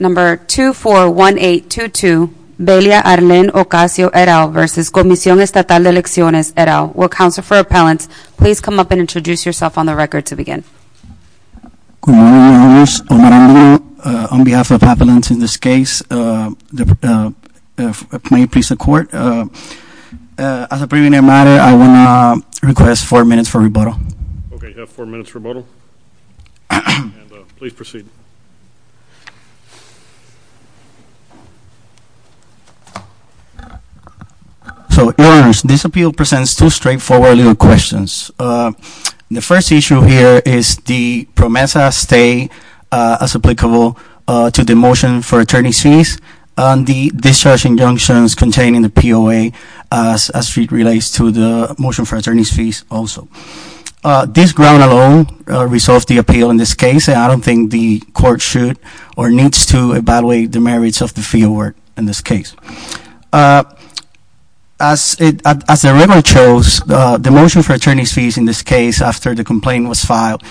Number 241822, Belia Arlen Ocasio et al. v. Comision Estatal de Elecciones et al. Will Counsel for Appellants please come up and introduce yourself on the record to begin. Good morning, Your Honors. On behalf of Appellants in this case, may it please the Court. As a preliminary matter, I would like to request four minutes for rebuttal. Okay, you have four minutes for rebuttal. Please proceed. So, Your Honors, this appeal presents two straightforward little questions. The first issue here is the PROMESA stay as applicable to the Motion for Attorney's Fees and the discharge injunctions containing the POA as it relates to the Motion for Attorney's Fees also. This ground alone resolves the appeal in this case, and I don't think the Court should or needs to evaluate the merits of the fee award in this case. As the record shows, the Motion for Attorney's Fees in this case, after the complaint was filed,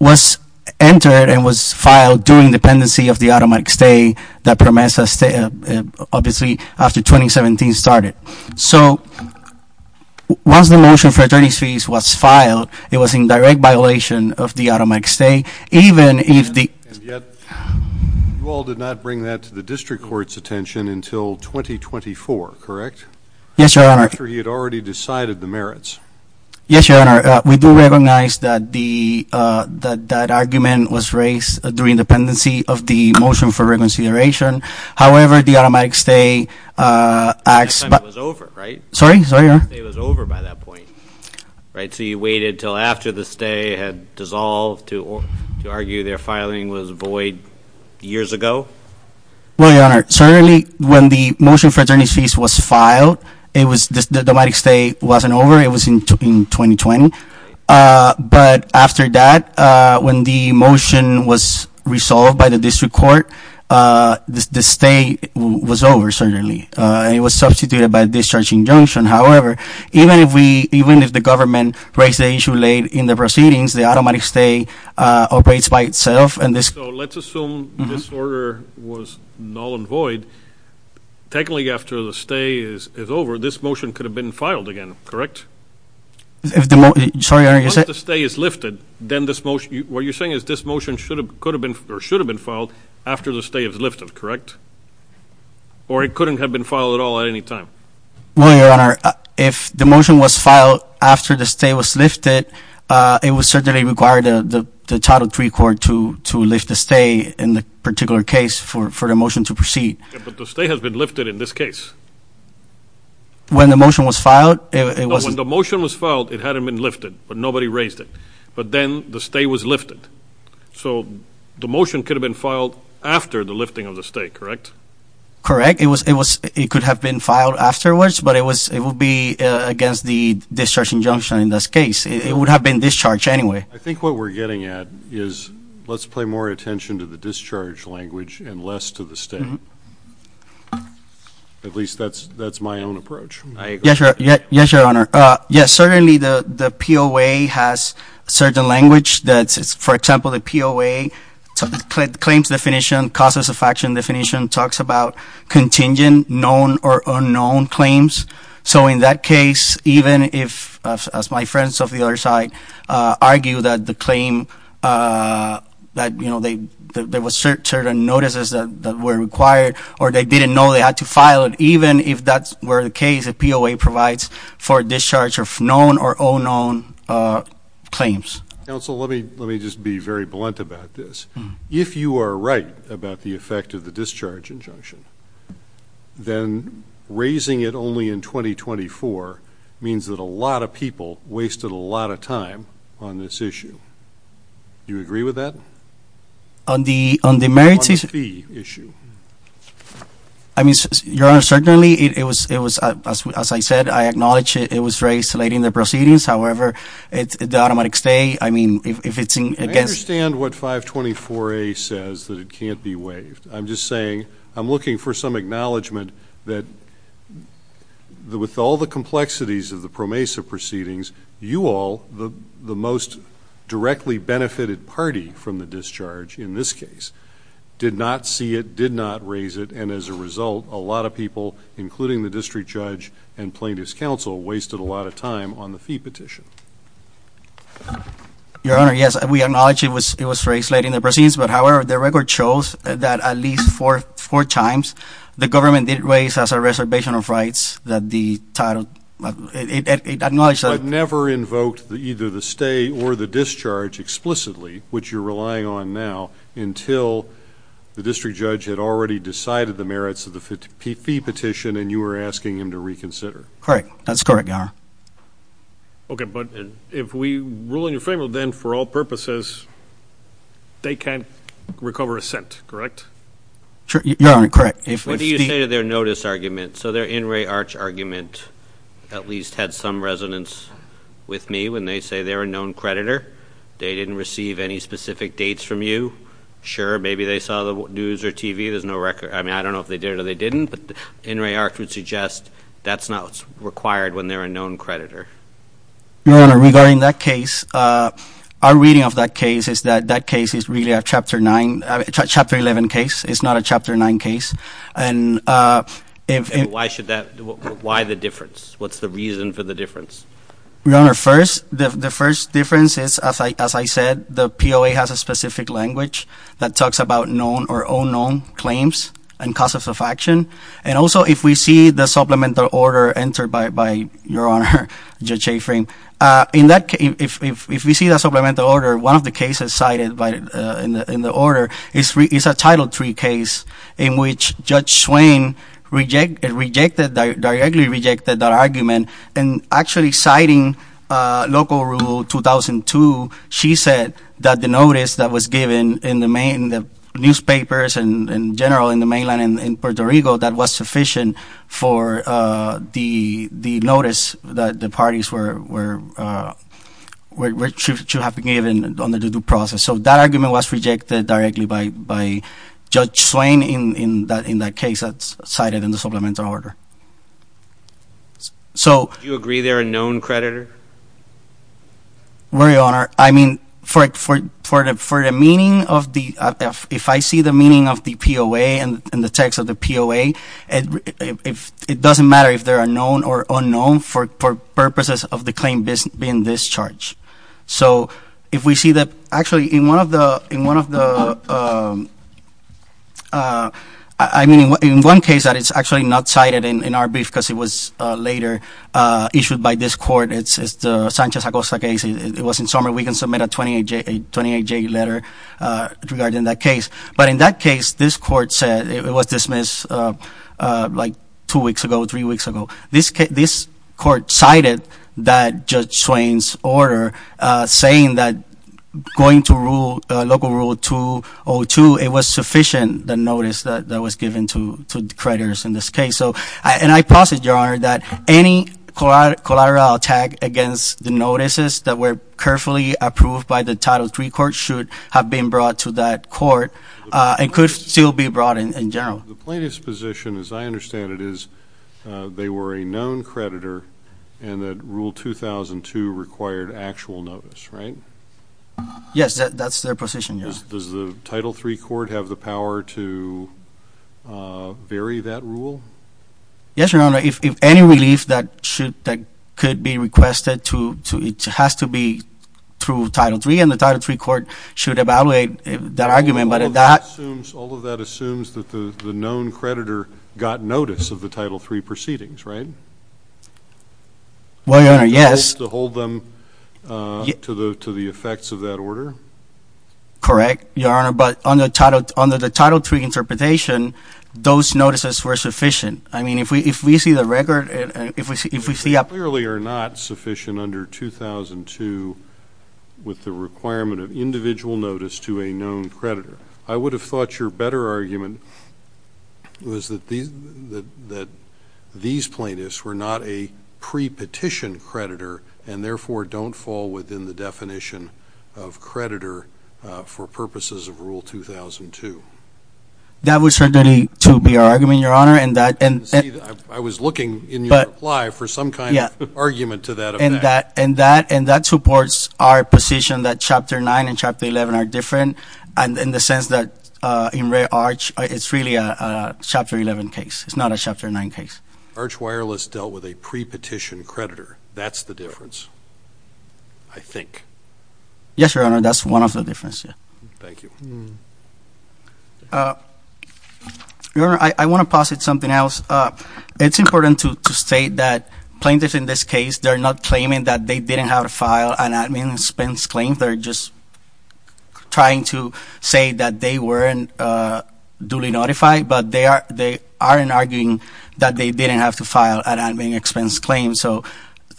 was entered and was filed during the pendency of the automatic stay that PROMESA obviously after 2017 started. So, once the Motion for Attorney's Fees was filed, it was in direct violation of the automatic stay, even if the... And yet, you all did not bring that to the District Court's attention until 2024, correct? Yes, Your Honor. After he had already decided the merits. Yes, Your Honor. We do recognize that that argument was raised during the pendency of the Motion for Reconsideration. However, the automatic stay acts... That time it was over, right? Sorry? Sorry, Your Honor. The automatic stay was over by that point, right? So, you waited until after the stay had dissolved to argue their filing was void years ago? Well, Your Honor, certainly when the Motion for Attorney's Fees was filed, the automatic stay wasn't over. It was in 2020. But after that, when the motion was resolved by the District Court, the stay was over, certainly. It was substituted by a discharge injunction. However, even if the government raised the issue late in the proceedings, the automatic stay operates by itself. So, let's assume this order was null and void. Technically, after the stay is over, this motion could have been filed again, correct? Sorry, Your Honor. Once the stay is lifted, then this motion... What you're saying is this motion should have been filed after the stay is lifted, correct? Or it couldn't have been filed at all at any time? Well, Your Honor, if the motion was filed after the stay was lifted, it would certainly require the Title III Court to lift the stay in the particular case for the motion to proceed. But the stay has been lifted in this case. When the motion was filed, it was... When the motion was filed, it hadn't been lifted, but nobody raised it. But then the stay was lifted. So, the motion could have been filed after the lifting of the stay, correct? Correct. It could have been filed afterwards, but it would be against the discharge injunction in this case. It would have been discharged anyway. I think what we're getting at is let's pay more attention to the discharge language and less to the stay. At least that's my own approach. Yes, Your Honor. Yes, certainly the POA has a certain language that's, for example, the POA claims definition, causes of action definition talks about contingent known or unknown claims. So, in that case, even if, as my friends of the other side argue that the claim that, you know, there were certain notices that were required or they didn't know they had to file it, even if that were the case, the POA provides for discharge of known or unknown claims. Counsel, let me just be very blunt about this. If you are right about the effect of the discharge injunction, then raising it only in 2024 means that a lot of people wasted a lot of time on this issue. Do you agree with that? On the merits issue? On the fee issue. I mean, Your Honor, certainly it was, as I said, I acknowledge it was raised late in the proceedings. However, the automatic stay, I mean, if it's against- I understand what 524A says, that it can't be waived. I'm just saying I'm looking for some acknowledgement that with all the complexities of the PROMESA proceedings, you all, the most directly benefited party from the discharge in this case, did not see it, did not raise it, and as a result, a lot of people, including the district judge and plaintiff's counsel, wasted a lot of time on the fee petition. Your Honor, yes, we acknowledge it was raised late in the proceedings, but however, the record shows that at least four times, the government did raise as a reservation of rights that the title- But never invoked either the stay or the discharge explicitly, which you're relying on now, until the district judge had already decided the merits of the fee petition and you were asking him to reconsider. Correct. That's correct, Your Honor. Okay, but if we rule in your favor, then for all purposes, they can't recover a cent, correct? Your Honor, correct. What do you say to their notice argument? So their in re arch argument at least had some resonance with me when they say they're a known creditor. They didn't receive any specific dates from you. Sure, maybe they saw the news or TV. There's no record. I mean, I don't know if they did or they didn't, but in re arch would suggest that's not required when they're a known creditor. Your Honor, regarding that case, our reading of that case is that that case is really a Chapter 9, Chapter 11 case. It's not a Chapter 9 case. And why should that? Why the difference? What's the reason for the difference? Your Honor, first, the first difference is, as I said, the POA has a specific language that talks about known or unknown claims and causes of action. And also, if we see the supplemental order entered by Your Honor, Judge Afrin, if we see the supplemental order, one of the cases cited in the order is a Title III case in which Judge Swain rejected, directly rejected that argument. And actually citing local rule 2002, she said that the notice that was given in the newspapers in general in the mainland in Puerto Rico, that was sufficient for the notice that the parties were to have been given on the due process. So that argument was rejected directly by Judge Swain in that case that's cited in the supplemental order. So. Do you agree they're a known creditor? Very honored. I mean, for the meaning of the, if I see the meaning of the POA and the text of the POA, it doesn't matter if they're a known or unknown for purposes of the claim being discharged. So if we see that actually in one of the, in one of the, I mean, in one case that is actually not cited in our brief because it was later issued by this court, it's the Sanchez-Acosta case. It was in summer. We can submit a 28-J letter regarding that case. But in that case, this court said it was dismissed like two weeks ago, three weeks ago. This court cited that Judge Swain's order saying that going to local rule 2002, it was sufficient, the notice that was given to creditors in this case. And I posit, Your Honor, that any collateral attack against the notices that were carefully approved by the Title III court should have been brought to that court and could still be brought in general. The plaintiff's position, as I understand it, is they were a known creditor and that Rule 2002 required actual notice, right? Yes, that's their position, yes. Does the Title III court have the power to vary that rule? Yes, Your Honor. If any relief that should, that could be requested to, it has to be through Title III, and the Title III court should evaluate that argument. All of that assumes that the known creditor got notice of the Title III proceedings, right? Well, Your Honor, yes. To hold them to the effects of that order? Correct, Your Honor, but under the Title III interpretation, those notices were sufficient. I mean, if we see the record, if we see a – They clearly are not sufficient under 2002 with the requirement of individual notice to a known creditor. I would have thought your better argument was that these plaintiffs were not a pre-petition creditor and therefore don't fall within the definition of creditor for purposes of Rule 2002. That was certainly to be our argument, Your Honor, and that – I was looking in your reply for some kind of argument to that effect. And that supports our position that Chapter 9 and Chapter 11 are different in the sense that in Ray Arch, it's really a Chapter 11 case. It's not a Chapter 9 case. Arch Wireless dealt with a pre-petition creditor. That's the difference, I think. Yes, Your Honor, that's one of the differences. Thank you. Your Honor, I want to posit something else. It's important to state that plaintiffs in this case, they're not claiming that they didn't have a file. And I mean, Spence claims they're just trying to say that they weren't duly notified, but they aren't arguing that they didn't have to file an admin expense claim. So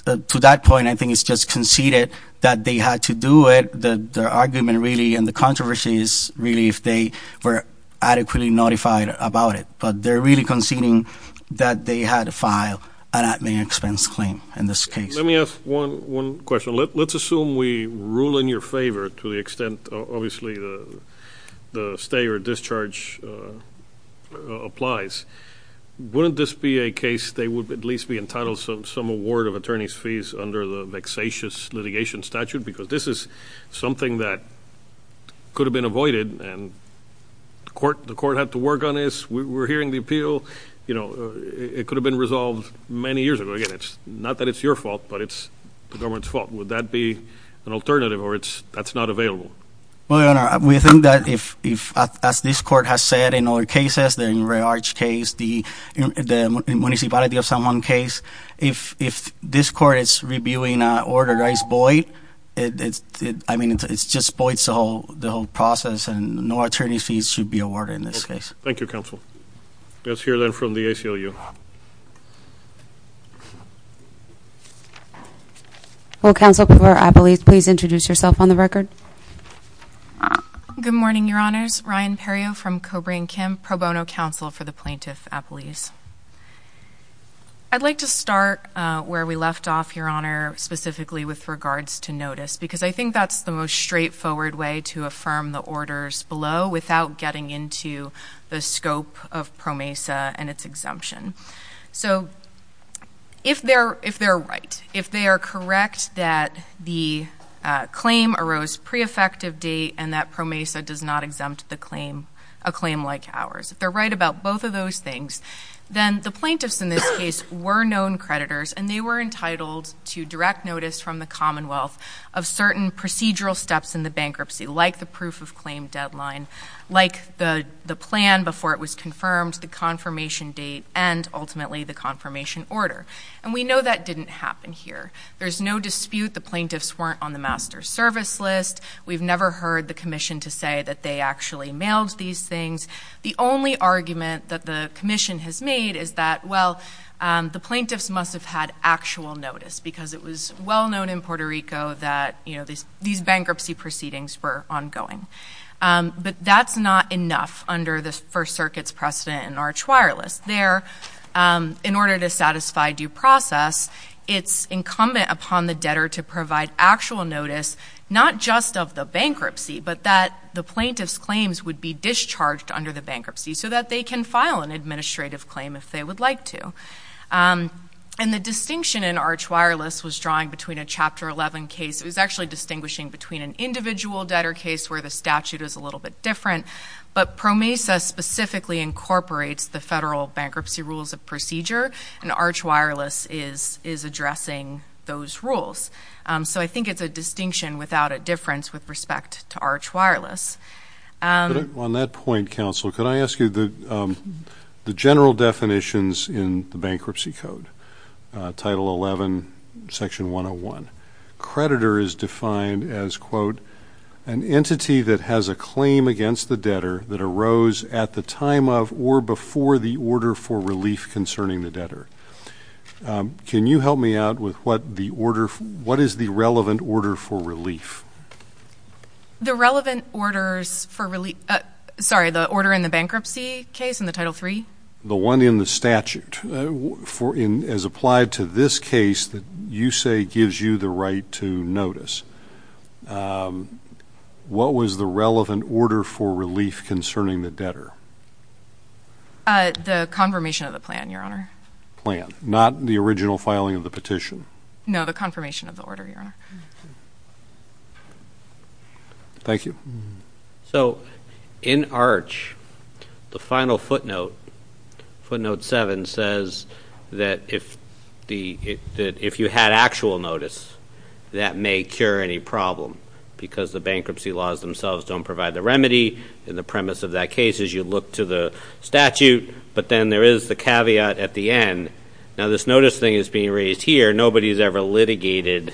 to that point, I think it's just conceded that they had to do it. The argument really and the controversy is really if they were adequately notified about it. But they're really conceding that they had to file an admin expense claim in this case. Let me ask one question. Let's assume we rule in your favor to the extent, obviously, the stay or discharge applies. Wouldn't this be a case they would at least be entitled to some award of attorney's fees under the vexatious litigation statute because this is something that could have been avoided and the court had to work on this. We're hearing the appeal. It could have been resolved many years ago. Again, it's not that it's your fault, but it's the government's fault. Would that be an alternative or that's not available? Well, Your Honor, we think that as this court has said in other cases, the Ray Arch case, the Municipality of San Juan case, if this court is reviewing an order that is void, I mean, it just voids the whole process and no attorney's fees should be awarded in this case. Thank you, counsel. Let's hear, then, from the ACLU. Will Counsel for the plaintiff please introduce yourself on the record? Good morning, Your Honors. Ryan Perrio from Cobra and Kim Pro Bono Counsel for the Plaintiff Appellees. I'd like to start where we left off, Your Honor, specifically with regards to notice because I think that's the most straightforward way to affirm the orders below without getting into the scope of PROMESA and its exemption. So, if they're right, if they are correct that the claim arose pre-effective date and that PROMESA does not exempt a claim like ours, if they're right about both of those things, then the plaintiffs in this case were known creditors and they were entitled to direct notice from the Commonwealth of certain procedural steps in the bankruptcy like the proof of claim deadline, like the plan before it was confirmed, the confirmation date, and ultimately the confirmation order. And we know that didn't happen here. There's no dispute the plaintiffs weren't on the master service list. We've never heard the commission to say that they actually mailed these things. The only argument that the commission has made is that, well, the plaintiffs must have had actual notice because it was well known in Puerto Rico that these bankruptcy proceedings were ongoing. But that's not enough under the First Circuit's precedent in Arch Wireless. There, in order to satisfy due process, it's incumbent upon the debtor to provide actual notice not just of the bankruptcy but that the plaintiff's claims would be discharged under the bankruptcy so that they can file an administrative claim if they would like to. And the distinction in Arch Wireless was drawing between a Chapter 11 case. It was actually distinguishing between an individual debtor case where the statute is a little bit different, but PROMESA specifically incorporates the federal bankruptcy rules of procedure and Arch Wireless is addressing those rules. So I think it's a distinction without a difference with respect to Arch Wireless. On that point, Counsel, could I ask you the general definitions in the Bankruptcy Code, Title 11, Section 101. Creditor is defined as, quote, an entity that has a claim against the debtor that arose at the time of or before the order for relief concerning the debtor. Can you help me out with what is the relevant order for relief? The relevant orders for relief? Sorry, the order in the bankruptcy case in the Title 3? The one in the statute. As applied to this case that you say gives you the right to notice. What was the relevant order for relief concerning the debtor? The confirmation of the plan, Your Honor. Plan, not the original filing of the petition? No, the confirmation of the order, Your Honor. Thank you. So in Arch, the final footnote, footnote 7, says that if you had actual notice, that may cure any problem because the bankruptcy laws themselves don't provide the remedy, and the premise of that case is you look to the statute, but then there is the caveat at the end. Now, this notice thing is being raised here. Nobody has ever litigated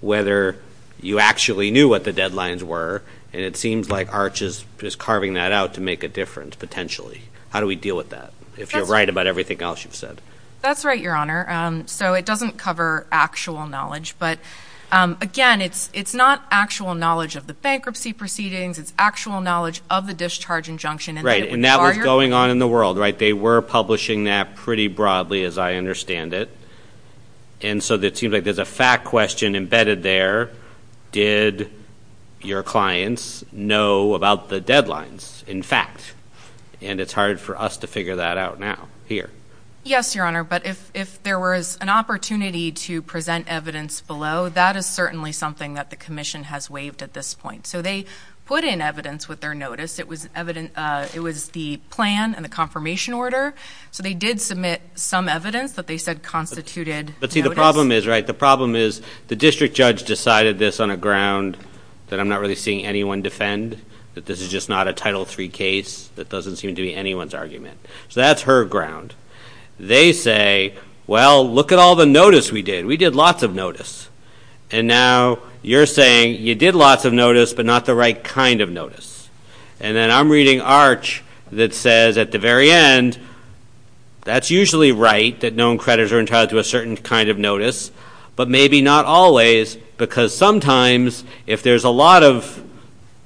whether you actually knew what the deadlines were, and it seems like Arch is carving that out to make a difference potentially. How do we deal with that, if you're right about everything else you've said? That's right, Your Honor. So it doesn't cover actual knowledge, but, again, it's not actual knowledge of the bankruptcy proceedings. It's actual knowledge of the discharge injunction. Right, and that was going on in the world, right? You're publishing that pretty broadly, as I understand it, and so it seems like there's a fact question embedded there. Did your clients know about the deadlines, in fact? And it's hard for us to figure that out now here. Yes, Your Honor, but if there was an opportunity to present evidence below, that is certainly something that the commission has waived at this point. So they put in evidence with their notice. It was the plan and the confirmation order. So they did submit some evidence that they said constituted notice. But, see, the problem is, right, the problem is the district judge decided this on a ground that I'm not really seeing anyone defend, that this is just not a Title III case, that doesn't seem to be anyone's argument. So that's her ground. They say, well, look at all the notice we did. We did lots of notice. And now you're saying you did lots of notice but not the right kind of notice. And then I'm reading Arch that says at the very end, that's usually right that known creditors are entitled to a certain kind of notice, but maybe not always because sometimes if there's a lot of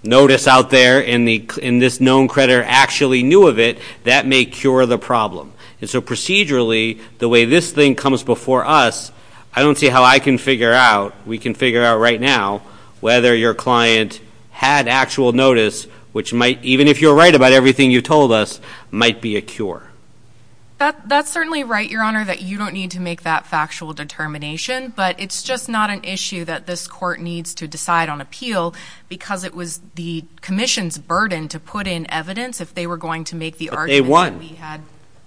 notice out there and this known creditor actually knew of it, that may cure the problem. And so procedurally, the way this thing comes before us, I don't see how I can figure out, we can figure out right now, whether your client had actual notice which might, even if you're right about everything you told us, might be a cure. That's certainly right, Your Honor, that you don't need to make that factual determination. But it's just not an issue that this court needs to decide on appeal because it was the commission's burden to put in evidence if they were going to make the argument that we had.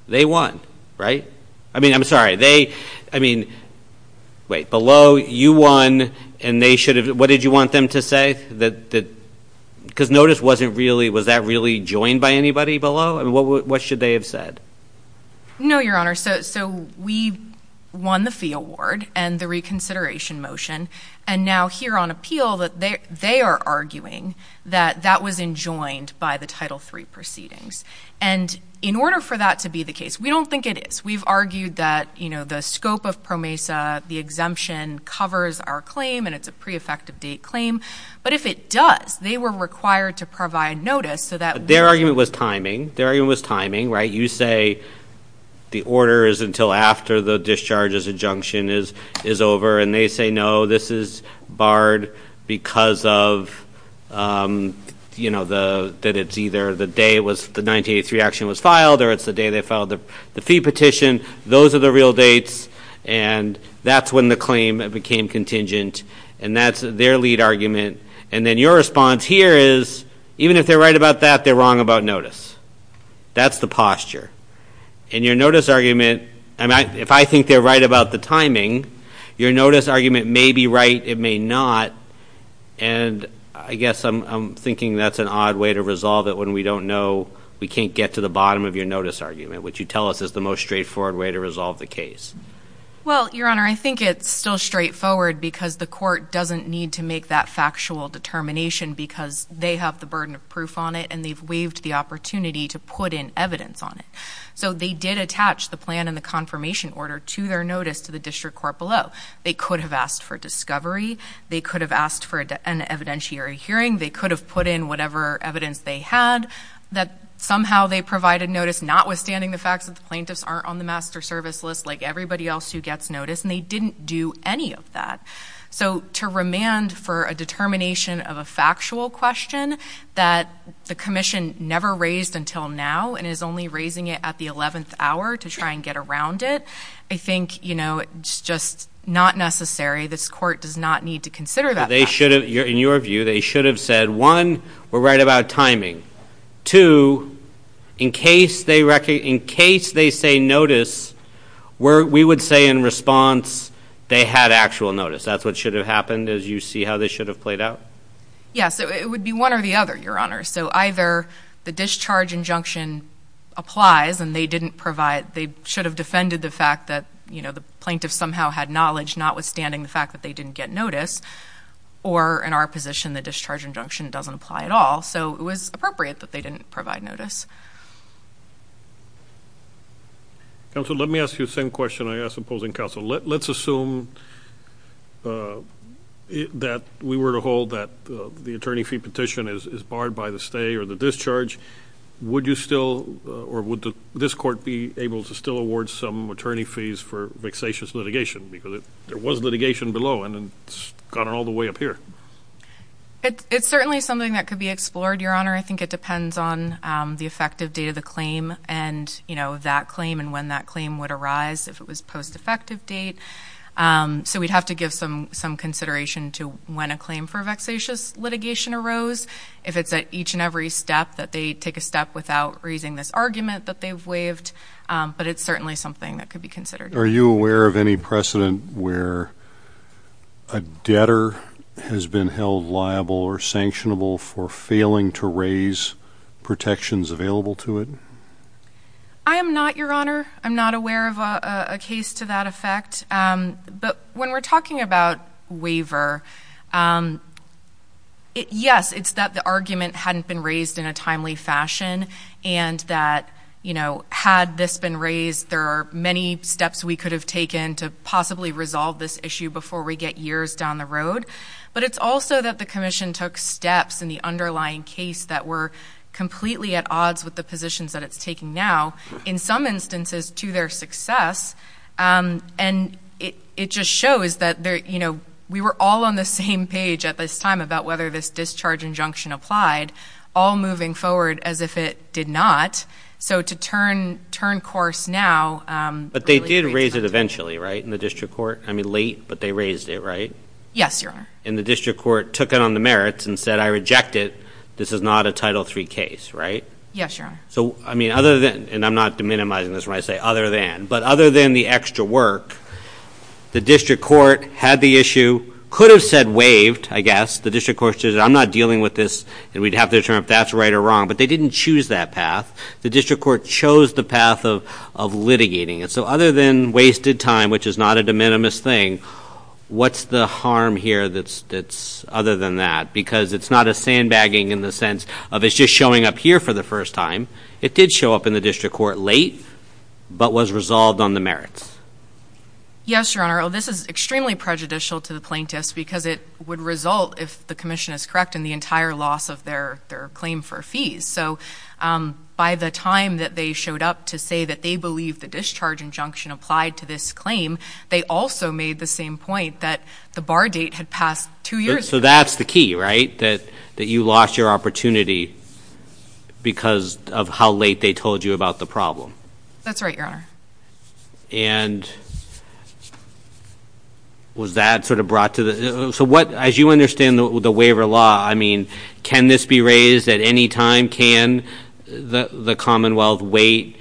But they won. They won, right? I mean, I'm sorry. They, I mean, wait. Below, you won and they should have. What did you want them to say? Because notice wasn't really, was that really joined by anybody below? What should they have said? No, Your Honor. So we won the fee award and the reconsideration motion. And now here on appeal, they are arguing that that was enjoined by the Title III proceedings. And in order for that to be the case, we don't think it is. We've argued that, you know, the scope of PROMESA, the exemption, covers our claim and it's a pre-effective date claim. But if it does, they were required to provide notice so that we could. Their argument was timing. Their argument was timing, right? You say the order is until after the discharge's injunction is over. And they say, no, this is barred because of, you know, that it's either the day, the 1983 action was filed or it's the day they filed the fee petition. Those are the real dates. And that's when the claim became contingent. And that's their lead argument. And then your response here is, even if they're right about that, they're wrong about notice. That's the posture. And your notice argument, if I think they're right about the timing, your notice argument may be right, it may not. And I guess I'm thinking that's an odd way to resolve it when we don't know, we can't get to the bottom of your notice argument, which you tell us is the most straightforward way to resolve the case. Well, Your Honor, I think it's still straightforward because the court doesn't need to make that factual determination because they have the burden of proof on it and they've waived the opportunity to put in evidence on it. So they did attach the plan and the confirmation order to their notice to the district court below. They could have asked for discovery. They could have asked for an evidentiary hearing. They could have put in whatever evidence they had. Somehow they provided notice, notwithstanding the fact that the plaintiffs aren't on the master service list like everybody else who gets notice, and they didn't do any of that. So to remand for a determination of a factual question that the commission never raised until now and is only raising it at the 11th hour to try and get around it, I think, you know, it's just not necessary. This court does not need to consider that fact. But they should have, in your view, they should have said, one, we're right about timing. Two, in case they say notice, we would say in response they had actual notice. That's what should have happened as you see how this should have played out? Yes, it would be one or the other, Your Honor. So either the discharge injunction applies and they didn't provide, they should have defended the fact that, you know, the plaintiff somehow had knowledge notwithstanding the fact that they didn't get notice, or in our position the discharge injunction doesn't apply at all. So it was appropriate that they didn't provide notice. Counsel, let me ask you the same question I asked the opposing counsel. Let's assume that we were to hold that the attorney fee petition is barred by the stay or the discharge. Would you still or would this court be able to still award some attorney fees for vexatious litigation? Because there was litigation below and it's gone all the way up here. It's certainly something that could be explored, Your Honor. I think it depends on the effective date of the claim and, you know, that claim and when that claim would arise, if it was post-effective date. So we'd have to give some consideration to when a claim for vexatious litigation arose. If it's at each and every step that they take a step without raising this argument that they've waived. But it's certainly something that could be considered. Are you aware of any precedent where a debtor has been held liable or sanctionable for failing to raise protections available to it? I am not, Your Honor. I'm not aware of a case to that effect. But when we're talking about waiver, yes, it's that the argument hadn't been raised in a timely fashion and that, you know, had this been raised, there are many steps we could have taken to possibly resolve this issue before we get years down the road. But it's also that the commission took steps in the underlying case that were completely at odds with the positions that it's taking now, in some instances to their success. And it just shows that, you know, we were all on the same page at this time about whether this discharge injunction applied, all moving forward as if it did not. So to turn course now. But they did raise it eventually, right, in the district court? I mean, late, but they raised it, right? Yes, Your Honor. And the district court took it on the merits and said, I reject it. This is not a Title III case, right? Yes, Your Honor. So, I mean, other than, and I'm not deminimizing this when I say other than, but other than the extra work, the district court had the issue, could have said waived, I guess. The district court said, I'm not dealing with this, and we'd have to determine if that's right or wrong. But they didn't choose that path. The district court chose the path of litigating it. So other than wasted time, which is not a de minimis thing, what's the harm here that's other than that? Because it's not a sandbagging in the sense of it's just showing up here for the first time. It did show up in the district court late, but was resolved on the merits. Yes, Your Honor. This is extremely prejudicial to the plaintiffs because it would result, if the commission is correct, in the entire loss of their claim for fees. So by the time that they showed up to say that they believe the discharge injunction applied to this claim, they also made the same point that the bar date had passed two years ago. So that's the key, right, that you lost your opportunity because of how late they told you about the problem? That's right, Your Honor. And was that sort of brought to the ‑‑ so what, as you understand the waiver law, I mean, can this be raised at any time? Can the Commonwealth wait?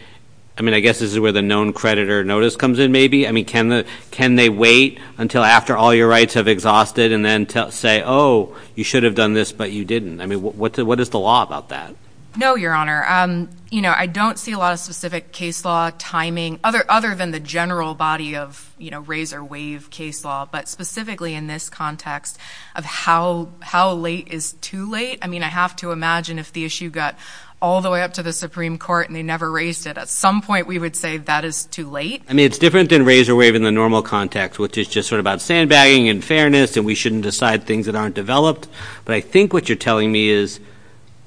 I mean, I guess this is where the known creditor notice comes in maybe. I mean, can they wait until after all your rights have exhausted and then say, oh, you should have done this, but you didn't? I mean, what is the law about that? No, Your Honor. You know, I don't see a lot of specific case law timing other than the general body of, you know, raise or waive case law, but specifically in this context of how late is too late. I mean, I have to imagine if the issue got all the way up to the Supreme Court and they never raised it, at some point we would say that is too late. I mean, it's different than raise or waive in the normal context, which is just sort of about sandbagging and fairness and we shouldn't decide things that aren't developed. But I think what you're telling me is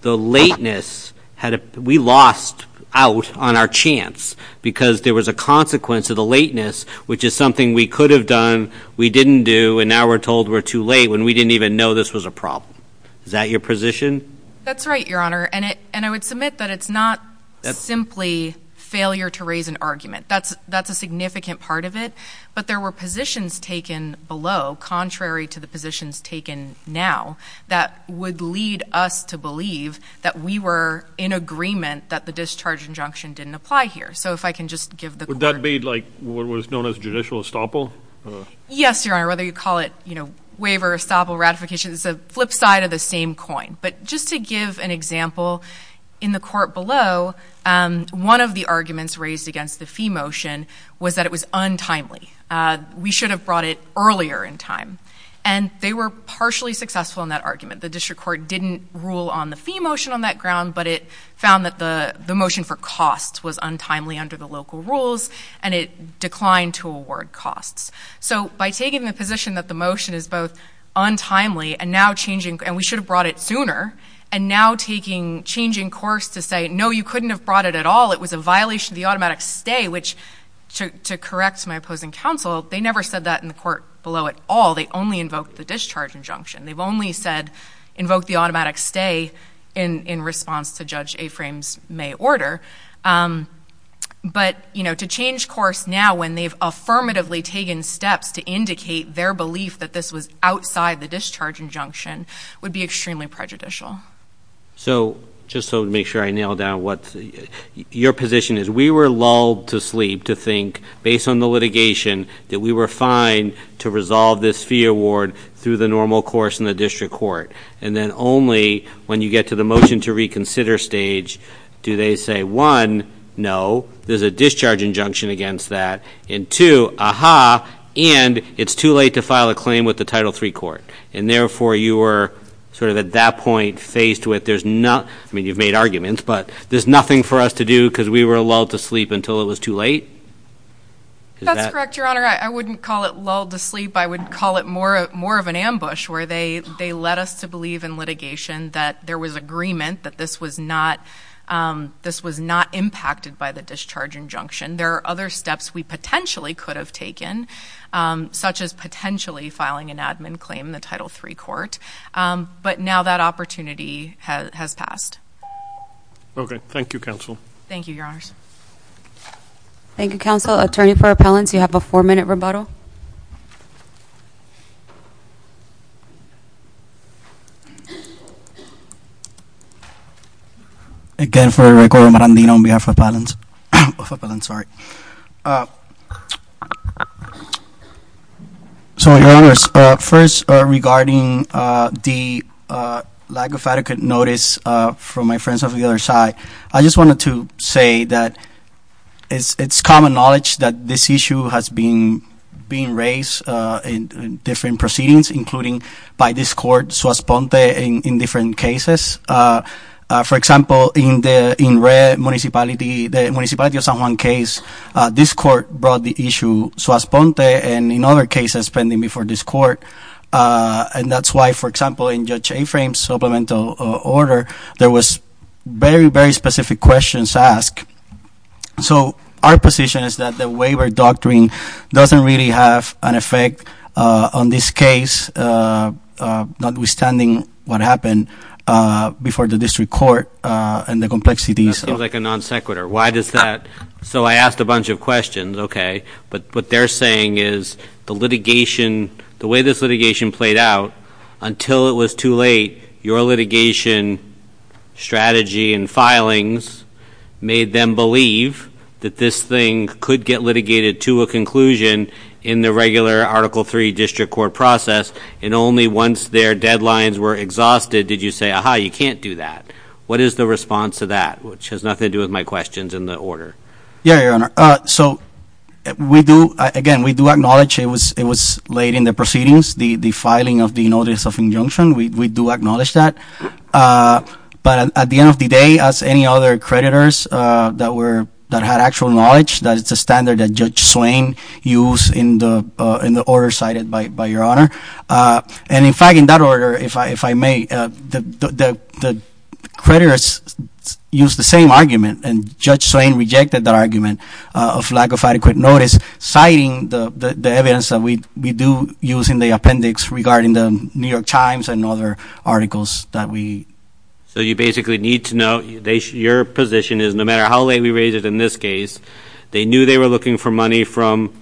the lateness, we lost out on our chance because there was a consequence of the lateness, which is something we could have done, we didn't do, and now we're told we're too late when we didn't even know this was a problem. Is that your position? That's right, Your Honor. And I would submit that it's not simply failure to raise an argument. That's a significant part of it. But there were positions taken below, contrary to the positions taken now, that would lead us to believe that we were in agreement that the discharge injunction didn't apply here. So if I can just give the court... Would that be like what was known as judicial estoppel? Yes, Your Honor, whether you call it, you know, waiver, estoppel, ratification, it's a flip side of the same coin. But just to give an example, in the court below, one of the arguments raised against the fee motion was that it was untimely. We should have brought it earlier in time. And they were partially successful in that argument. The district court didn't rule on the fee motion on that ground, but it found that the motion for costs was untimely under the local rules and it declined to award costs. So by taking the position that the motion is both untimely and now changing, and we should have brought it sooner, and now changing course to say, no, you couldn't have brought it at all, it was a violation of the automatic stay, which, to correct my opposing counsel, they never said that in the court below at all. They only invoked the discharge injunction. They've only said, invoked the automatic stay in response to Judge Afram's May order. But, you know, to change course now when they've affirmatively taken steps to indicate their belief that this was outside the discharge injunction would be extremely prejudicial. So, just so to make sure I nail down what your position is, we were lulled to sleep to think, based on the litigation, that we were fine to resolve this fee award through the normal course in the district court. And then only when you get to the motion to reconsider stage do they say, one, no, there's a discharge injunction against that, and two, aha, and it's too late to file a claim with the Title III court. And therefore, you were sort of at that point faced with there's not, I mean, you've made arguments, but there's nothing for us to do because we were lulled to sleep until it was too late? That's correct, Your Honor. I wouldn't call it lulled to sleep. I would call it more of an ambush where they led us to believe in litigation that there was agreement that this was not impacted by the discharge injunction. There are other steps we potentially could have taken, such as potentially filing an admin claim in the Title III court. But now that opportunity has passed. Okay. Thank you, counsel. Thank you, Your Honors. Thank you, counsel. Attorney for appellants, you have a four-minute rebuttal. Again, for the record, Omar Andino on behalf of appellants. Of appellants, sorry. So, Your Honors, first, regarding the lack of adequate notice from my friends on the other side, I just wanted to say that it's common knowledge that this issue has been raised in different proceedings, including by this court, Suas-Ponte, in different cases. For example, in the municipality of San Juan case, this court brought the issue Suas-Ponte, and in other cases pending before this court. And that's why, for example, in Judge Aframe's supplemental order, there was very, very specific questions asked. So our position is that the waiver doctrine doesn't really have an effect on this case, notwithstanding what happened before the district court and the complexities. That seems like a non sequitur. Why does that? So I asked a bunch of questions. Okay. But what they're saying is the litigation, the way this litigation played out, until it was too late, your litigation strategy and filings made them believe that this thing could get litigated to a conclusion in the regular Article III district court process. And only once their deadlines were exhausted did you say, aha, you can't do that. What is the response to that? Which has nothing to do with my questions in the order. Yeah, Your Honor. So we do, again, we do acknowledge it was late in the proceedings, the filing of the notice of injunction. We do acknowledge that. But at the end of the day, as any other creditors that had actual knowledge, that it's a standard that Judge Swain used in the order cited by Your Honor. And, in fact, in that order, if I may, the creditors used the same argument, and Judge Swain rejected the argument of lack of adequate notice, citing the evidence that we do use in the appendix regarding the New York Times and other articles that we. So you basically need to know your position is no matter how late we raise it in this case, they knew they were looking for money from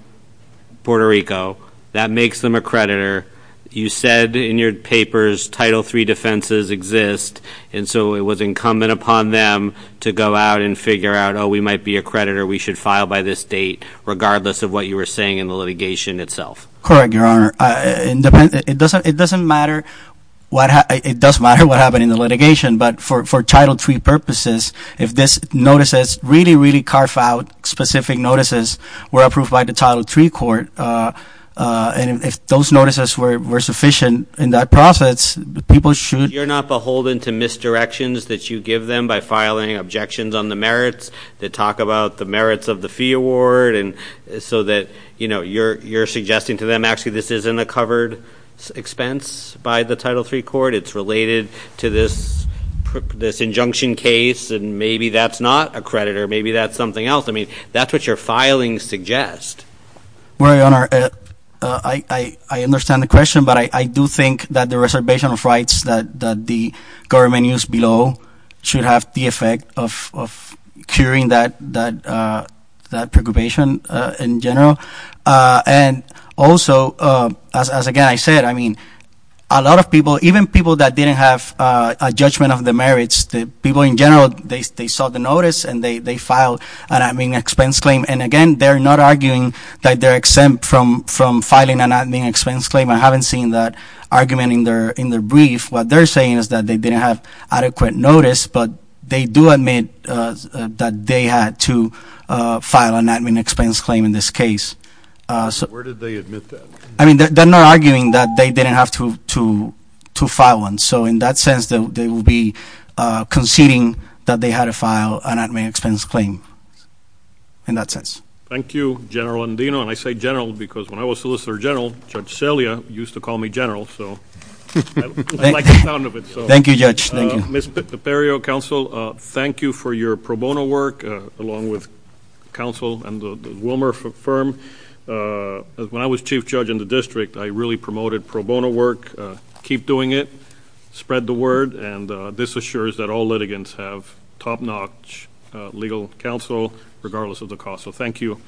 Puerto Rico. That makes them a creditor. You said in your papers Title III defenses exist. And so it was incumbent upon them to go out and figure out, oh, we might be a creditor. We should file by this date, regardless of what you were saying in the litigation itself. Correct, Your Honor. It doesn't matter what happened in the litigation, but for Title III purposes, if this notice is really, really carved out, specific notices were approved by the Title III court, and if those notices were sufficient in that process, people should. But you're not beholden to misdirections that you give them by filing objections on the merits, that talk about the merits of the fee award, so that you're suggesting to them, actually, this isn't a covered expense by the Title III court, it's related to this injunction case, and maybe that's not a creditor, maybe that's something else. I mean, that's what your filings suggest. Well, Your Honor, I understand the question, but I do think that the reservation of rights that the government used below should have the effect of curing that preoccupation in general. And also, as, again, I said, I mean, a lot of people, even people that didn't have a judgment of the merits, the people in general, they saw the notice and they filed an expense claim. And, again, they're not arguing that they're exempt from filing an admin expense claim. I haven't seen that argument in their brief. What they're saying is that they didn't have adequate notice, but they do admit that they had to file an admin expense claim in this case. Where did they admit that? I mean, they're not arguing that they didn't have to file one. So in that sense, they will be conceding that they had to file an admin expense claim in that sense. Thank you, General Andino. And I say general because when I was Solicitor General, Judge Celia used to call me general. So I like the sound of it. Thank you, Judge. Thank you. Ms. Peperio, counsel, thank you for your pro bono work along with counsel and the Wilmer firm. When I was chief judge in the district, I really promoted pro bono work. Keep doing it. Spread the word. And this assures that all litigants have top-notch legal counsel regardless of the cost. So thank you.